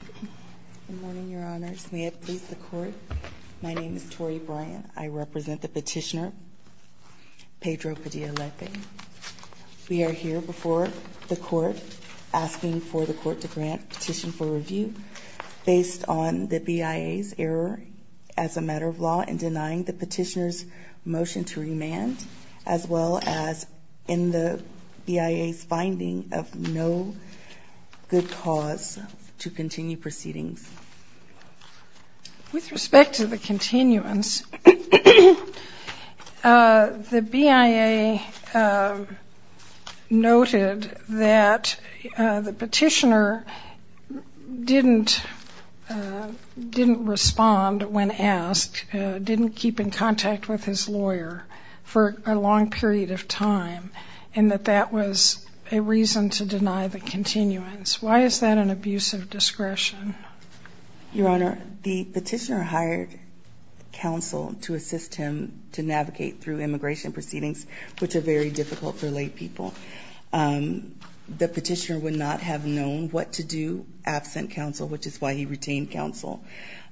Good morning, Your Honors. May it please the Court, my name is Tori Bryant. I represent the petitioner Pedro Padilla-Lepe. We are here before the Court asking for the Court to grant petition for review based on the BIA's error as a matter of law in denying the petitioner's motion to remand, as well as in the BIA's finding of no good cause to continue proceedings. With respect to the continuance, the BIA noted that the petitioner didn't respond when asked, didn't keep in contact with his lawyer for a long period of time, and that that was a reason to deny the continuance. Why is that an abuse of discretion? Your Honor, the petitioner hired counsel to assist him to navigate through immigration proceedings, which are very difficult for lay people. The petitioner would not have known what to do absent counsel, which is why he retained counsel.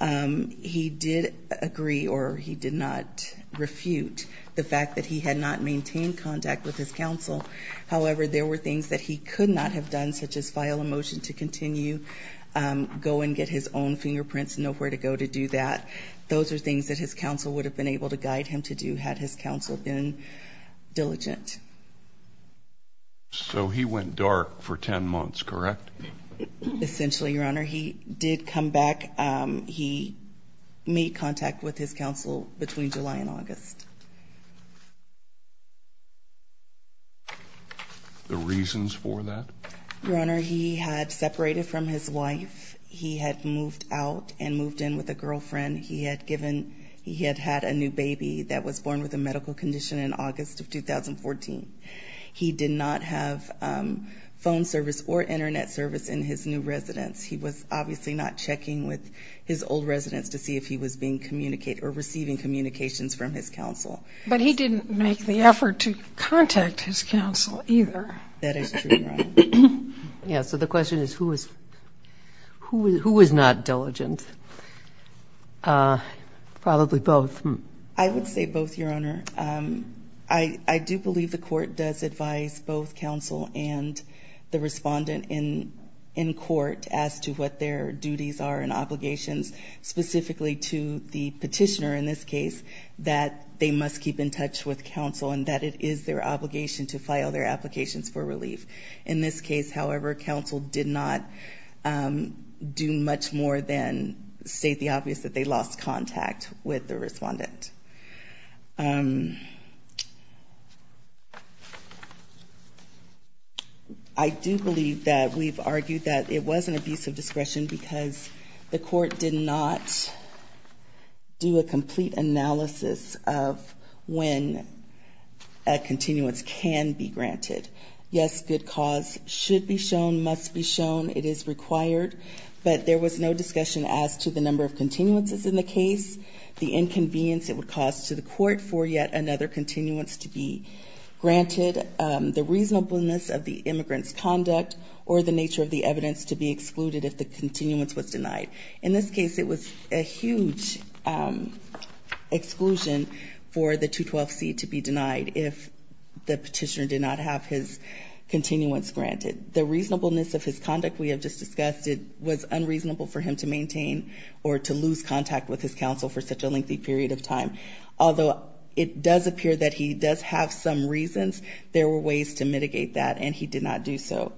He did agree, or he did not refute, the fact that he had not maintained contact with his counsel. However, there were things that he could not have done, such as file a motion to continue, go and get his own fingerprints and know where to go to do that. Those are things that his counsel would have been able to guide him to do had his counsel been diligent. So he went dark for 10 months, correct? Essentially, Your Honor. He did come back. He made contact with his counsel between July and August. The reasons for that? Your Honor, he had separated from his wife. He had moved out and moved in with a girlfriend. He had had a new baby that was born with a medical condition in August of 2014. He did not have phone service or Internet service in his new residence. He was obviously not checking with his old residence to see if he was being communicated or receiving communications from his counsel. But he didn't make the effort to contact his counsel either. That is true, Your Honor. Yes, so the question is, who was not diligent? Probably both. I would say both, Your Honor. I do believe the court does advise both counsel and the respondent in court as to what their duties are and obligations specifically to the petitioner in this case that they must keep in touch with counsel and that it is their obligation to file their applications for relief. In this case, however, counsel did not do much more than state the obvious that they lost contact with the respondent. I do believe that we've argued that it was an abuse of discretion because the court did not do a complete analysis of when a continuance can be granted. Yes, good cause should be shown, must be shown. It is required. But there was no discussion as to the number of continuances in the case, the inconvenience it would cause to the court for yet another continuance to be granted, the reasonableness of the immigrant's conduct, or the nature of the evidence to be excluded if the continuance was denied. In this case, it was a huge exclusion for the 212C to be denied if the petitioner did not have his continuance granted. The reasonableness of his conduct we have just discussed, it was unreasonable for him to maintain or to lose contact with his counsel for such a lengthy period of time. Although it does appear that he does have some reasons, there were ways to mitigate that, and he did not do so.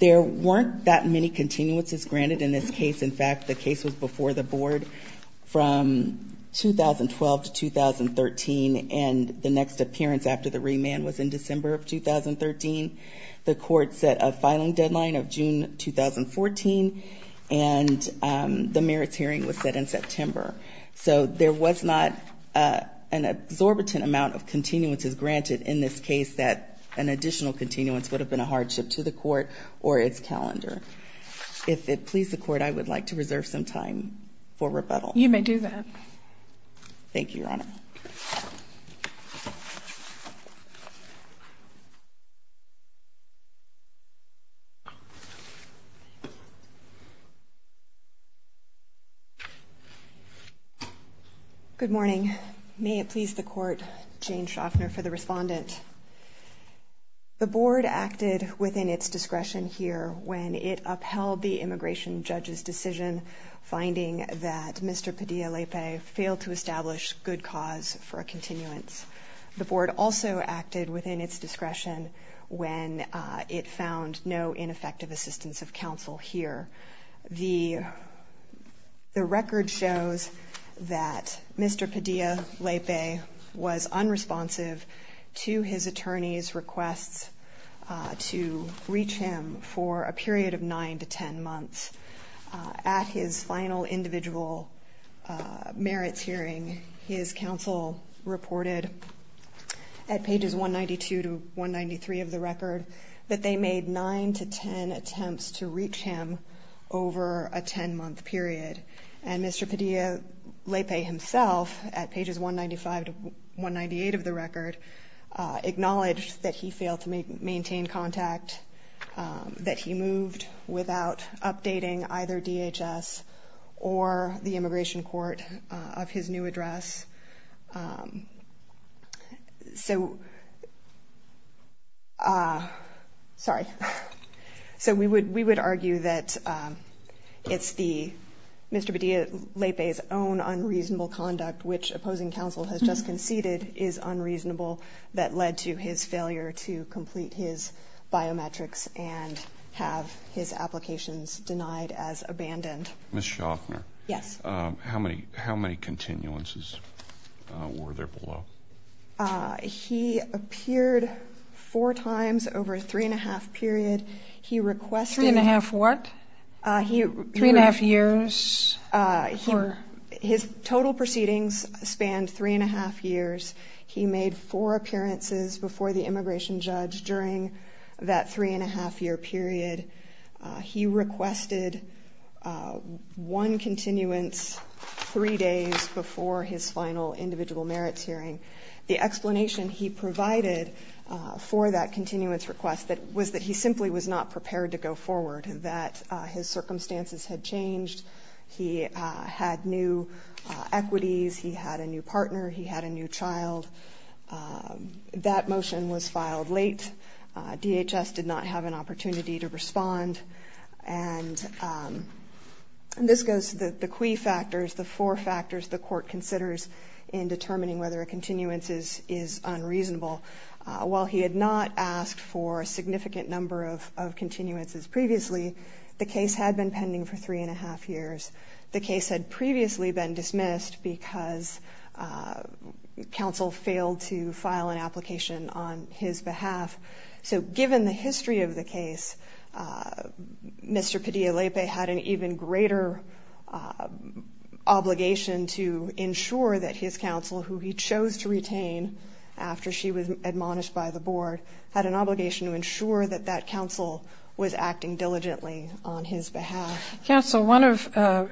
There weren't that many continuances granted in this case. In fact, the case was before the board from 2012 to 2013, and the next appearance after the remand was in December of 2013. The court set a filing deadline of June 2014, and the merits hearing was set in September. So there was not an exorbitant amount of continuances granted in this case that an additional continuance would have been a hardship to the court or its calendar. If it please the court, I would like to reserve some time for rebuttal. You may do that. Thank you, Your Honor. Good morning. May it please the court, Jane Shoffner for the respondent. The board acted within its discretion here when it upheld the immigration judge's decision, finding that Mr. Padilla-Lepe failed to establish good cause for a continuance. The board also acted within its discretion when it found no ineffective assistance of counsel here. The record shows that Mr. Padilla-Lepe was unresponsive to his attorney's requests to reach him for a period of 9 to 10 months. At his final individual merits hearing, his counsel reported at pages 192 to 193 of the record that they made 9 to 10 attempts to reach him over a 10-month period. And Mr. Padilla-Lepe himself, at pages 195 to 198 of the record, acknowledged that he failed to maintain contact, that he moved without updating either DHS or the immigration court of his new address. So we would argue that Mr. Padilla-Lepe's own unreasonable conduct, which opposing counsel has just conceded is unreasonable, that led to his failure to complete his biometrics and have his applications denied as abandoned. Ms. Shoffner? Yes. How many continuances were there below? He appeared four times over a three-and-a-half period. Three-and-a-half what? Three-and-a-half years? His total proceedings spanned three-and-a-half years. He made four appearances before the immigration judge during that three-and-a-half-year period. He requested one continuance three days before his final individual merits hearing. The explanation he provided for that continuance request was that he simply was not prepared to go forward, that his circumstances had changed. He had new equities. He had a new partner. He had a new child. That motion was filed late. DHS did not have an opportunity to respond. And this goes to the kwee factors, the four factors the court considers in determining whether a continuance is unreasonable. While he had not asked for a significant number of continuances previously, the case had been pending for three-and-a-half years. The case had previously been dismissed because counsel failed to file an application on his behalf. So given the history of the case, Mr. Padilla-Lepe had an even greater obligation to ensure that his counsel, who he chose to retain after she was admonished by the board, had an obligation to ensure that that counsel was acting diligently on his behalf. Counsel, one of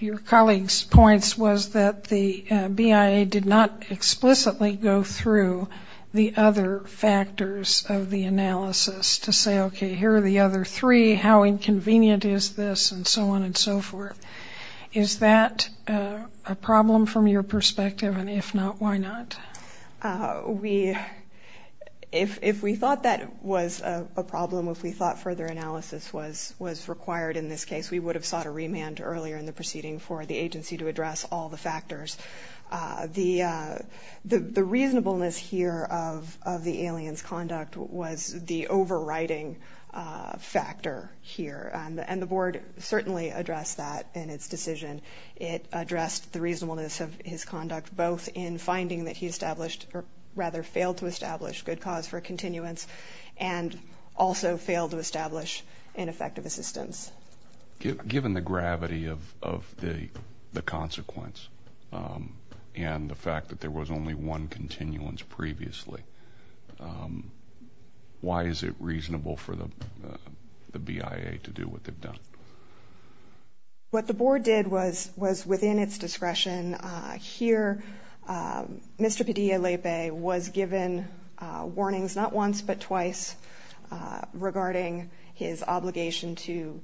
your colleagues' points was that the BIA did not explicitly go through the other factors of the analysis to say, okay, here are the other three, how inconvenient is this, and so on and so forth. Is that a problem from your perspective? And if not, why not? If we thought that was a problem, if we thought further analysis was required in this case, we would have sought a remand earlier in the proceeding for the agency to address all the factors. The reasonableness here of the alien's conduct was the overriding factor here. And the board certainly addressed that in its decision. It addressed the reasonableness of his conduct both in finding that he established or rather failed to establish good cause for continuance and also failed to establish ineffective assistance. Given the gravity of the consequence and the fact that there was only one continuance previously, why is it reasonable for the BIA to do what they've done? What the board did was within its discretion. Here, Mr. Padilla-Lepe was given warnings not once but twice regarding his obligation to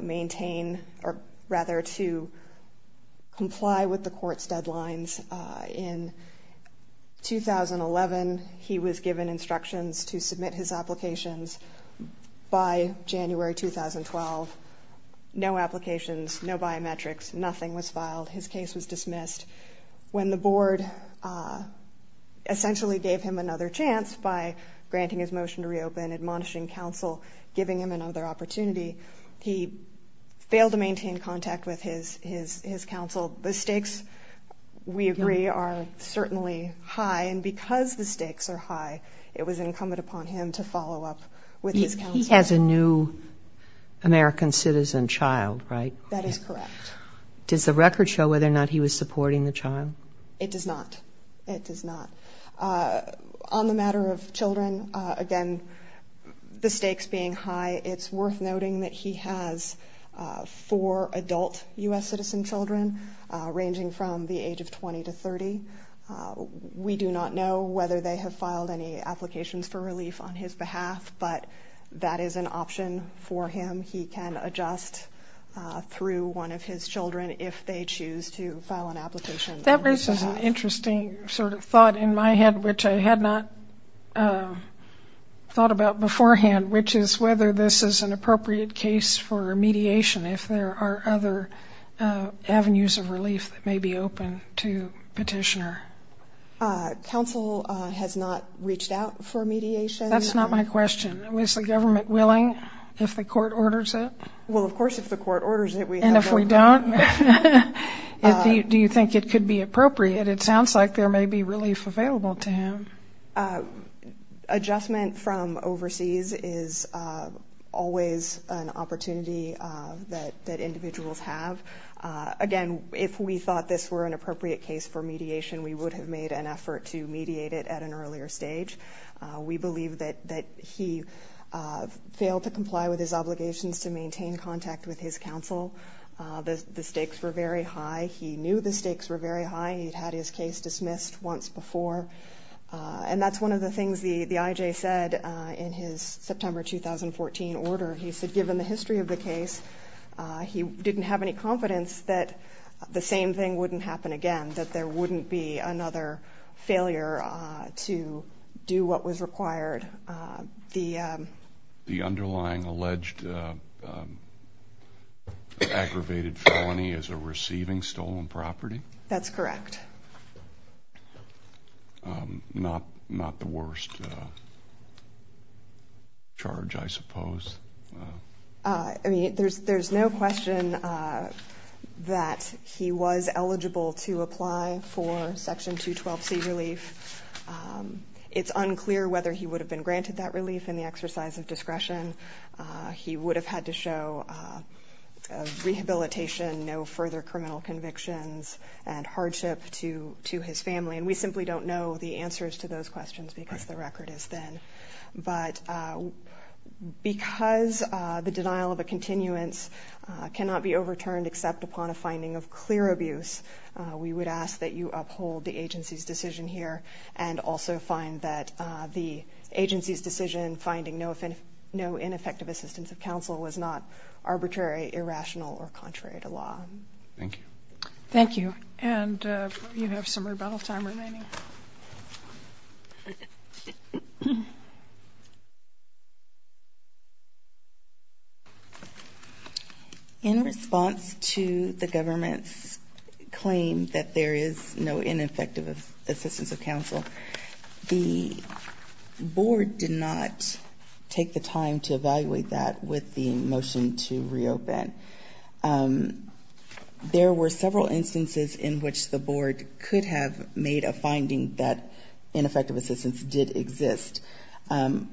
maintain or rather to comply with the court's deadlines. In 2011, he was given instructions to submit his applications. By January 2012, no applications, no biometrics, nothing was filed. His case was dismissed. When the board essentially gave him another chance by granting his motion to reopen, admonishing counsel, giving him another opportunity, he failed to maintain contact with his counsel. The stakes, we agree, are certainly high. And because the stakes are high, it was incumbent upon him to follow up with his counsel. He has a new American citizen child, right? That is correct. Does the record show whether or not he was supporting the child? It does not. It does not. On the matter of children, again, the stakes being high, it's worth noting that he has four adult U.S. citizen children ranging from the age of 20 to 30. We do not know whether they have filed any applications for relief on his behalf, but that is an option for him. He can adjust through one of his children if they choose to file an application. That raises an interesting sort of thought in my head, which I had not thought about beforehand, which is whether this is an appropriate case for mediation, if there are other avenues of relief that may be open to petitioner. Counsel has not reached out for mediation? That's not my question. Was the government willing if the court orders it? Well, of course if the court orders it, we have no problem. And if we don't? Do you think it could be appropriate? It sounds like there may be relief available to him. Adjustment from overseas is always an opportunity that individuals have. Again, if we thought this were an appropriate case for mediation, we would have made an effort to mediate it at an earlier stage. We believe that he failed to comply with his obligations to maintain contact with his counsel. The stakes were very high. He knew the stakes were very high. He had his case dismissed once before. And that's one of the things the IJ said in his September 2014 order. He said given the history of the case, he didn't have any confidence that the same thing wouldn't happen again, that there wouldn't be another failure to do what was required. The underlying alleged aggravated felony is a receiving stolen property? That's correct. Not the worst charge, I suppose. I mean, there's no question that he was eligible to apply for Section 212C relief. It's unclear whether he would have been granted that relief in the exercise of discretion. He would have had to show rehabilitation, no further criminal convictions, and hardship to his family. And we simply don't know the answers to those questions because the record is thin. But because the denial of a continuance cannot be overturned except upon a finding of clear abuse, we would ask that you uphold the agency's decision here and also find that the agency's decision finding no ineffective assistance of counsel was not arbitrary, irrational, or contrary to law. Thank you. Thank you. And you have some rebuttal time remaining. Thank you. In response to the government's claim that there is no ineffective assistance of counsel, the board did not take the time to evaluate that with the motion to reopen. There were several instances in which the board could have made a finding that ineffective assistance did exist.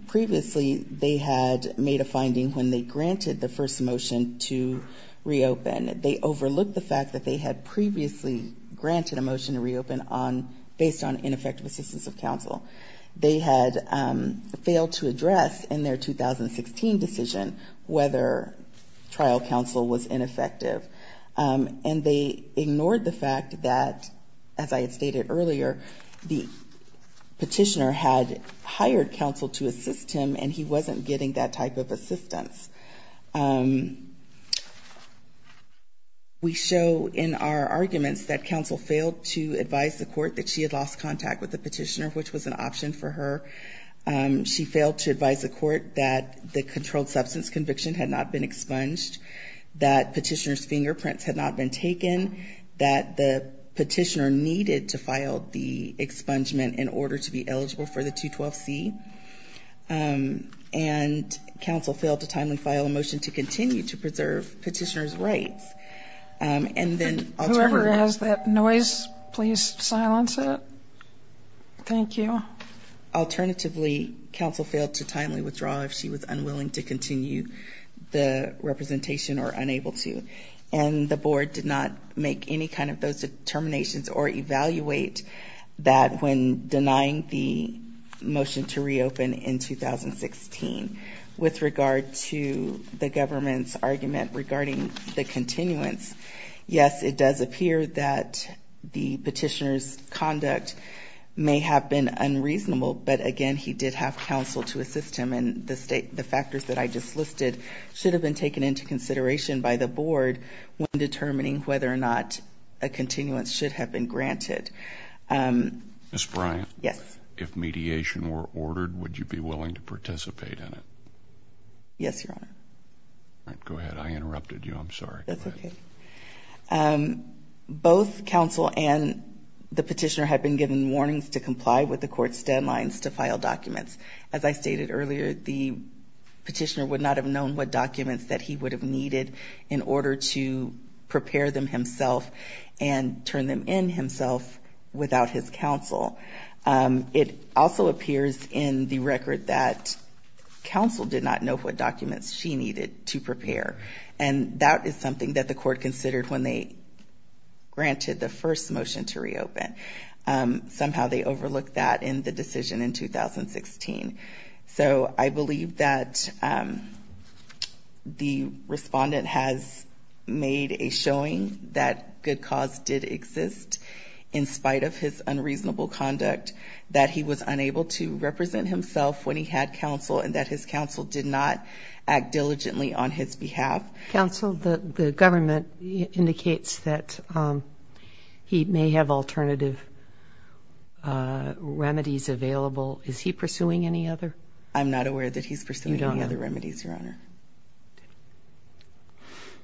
Previously, they had made a finding when they granted the first motion to reopen. They overlooked the fact that they had previously granted a motion to reopen based on ineffective assistance of counsel. They had failed to address in their 2016 decision whether trial counsel was ineffective. And they ignored the fact that, as I had stated earlier, the petitioner had hired counsel to assist him, and he wasn't getting that type of assistance. We show in our arguments that counsel failed to advise the court that she had lost contact with the petitioner, which was an option for her. She failed to advise the court that the controlled substance conviction had not been expunged, that petitioner's fingerprints had not been taken, that the petitioner needed to file the expungement in order to be eligible for the 212C. And counsel failed to timely file a motion to continue to preserve petitioner's rights. Whoever has that noise, please silence it. Thank you. Alternatively, counsel failed to timely withdraw if she was unwilling to continue the representation or unable to. And the board did not make any kind of those determinations or evaluate that when denying the motion to reopen in 2016. With regard to the government's argument regarding the continuance, yes, it does appear that the petitioner's conduct may have been unreasonable. But, again, he did have counsel to assist him, and the factors that I just listed should have been taken into consideration by the board when determining whether or not a continuance should have been granted. Ms. Bryant? Yes. If mediation were ordered, would you be willing to participate in it? Yes, Your Honor. All right, go ahead. I interrupted you. I'm sorry. That's okay. Both counsel and the petitioner had been given warnings to comply with the court's deadlines to file documents. As I stated earlier, the petitioner would not have known what documents that he would have needed in order to prepare them himself and turn them in himself without his counsel. It also appears in the record that counsel did not know what documents she needed to prepare, and that is something that the court considered when they granted the first motion to reopen. Somehow they overlooked that in the decision in 2016. So I believe that the respondent has made a showing that good cause did exist in spite of his unreasonable conduct, that he was unable to represent himself when he had counsel, and that his counsel did not act diligently on his behalf. Counsel, the government indicates that he may have alternative remedies available. Is he pursuing any other? I'm not aware that he's pursuing any other remedies, Your Honor.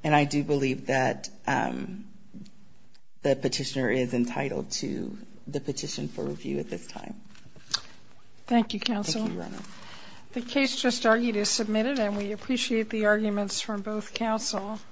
And I do believe that the petitioner is entitled to the petition for review at this time. Thank you, counsel. The case just argued is submitted and we appreciate the arguments from both counsel.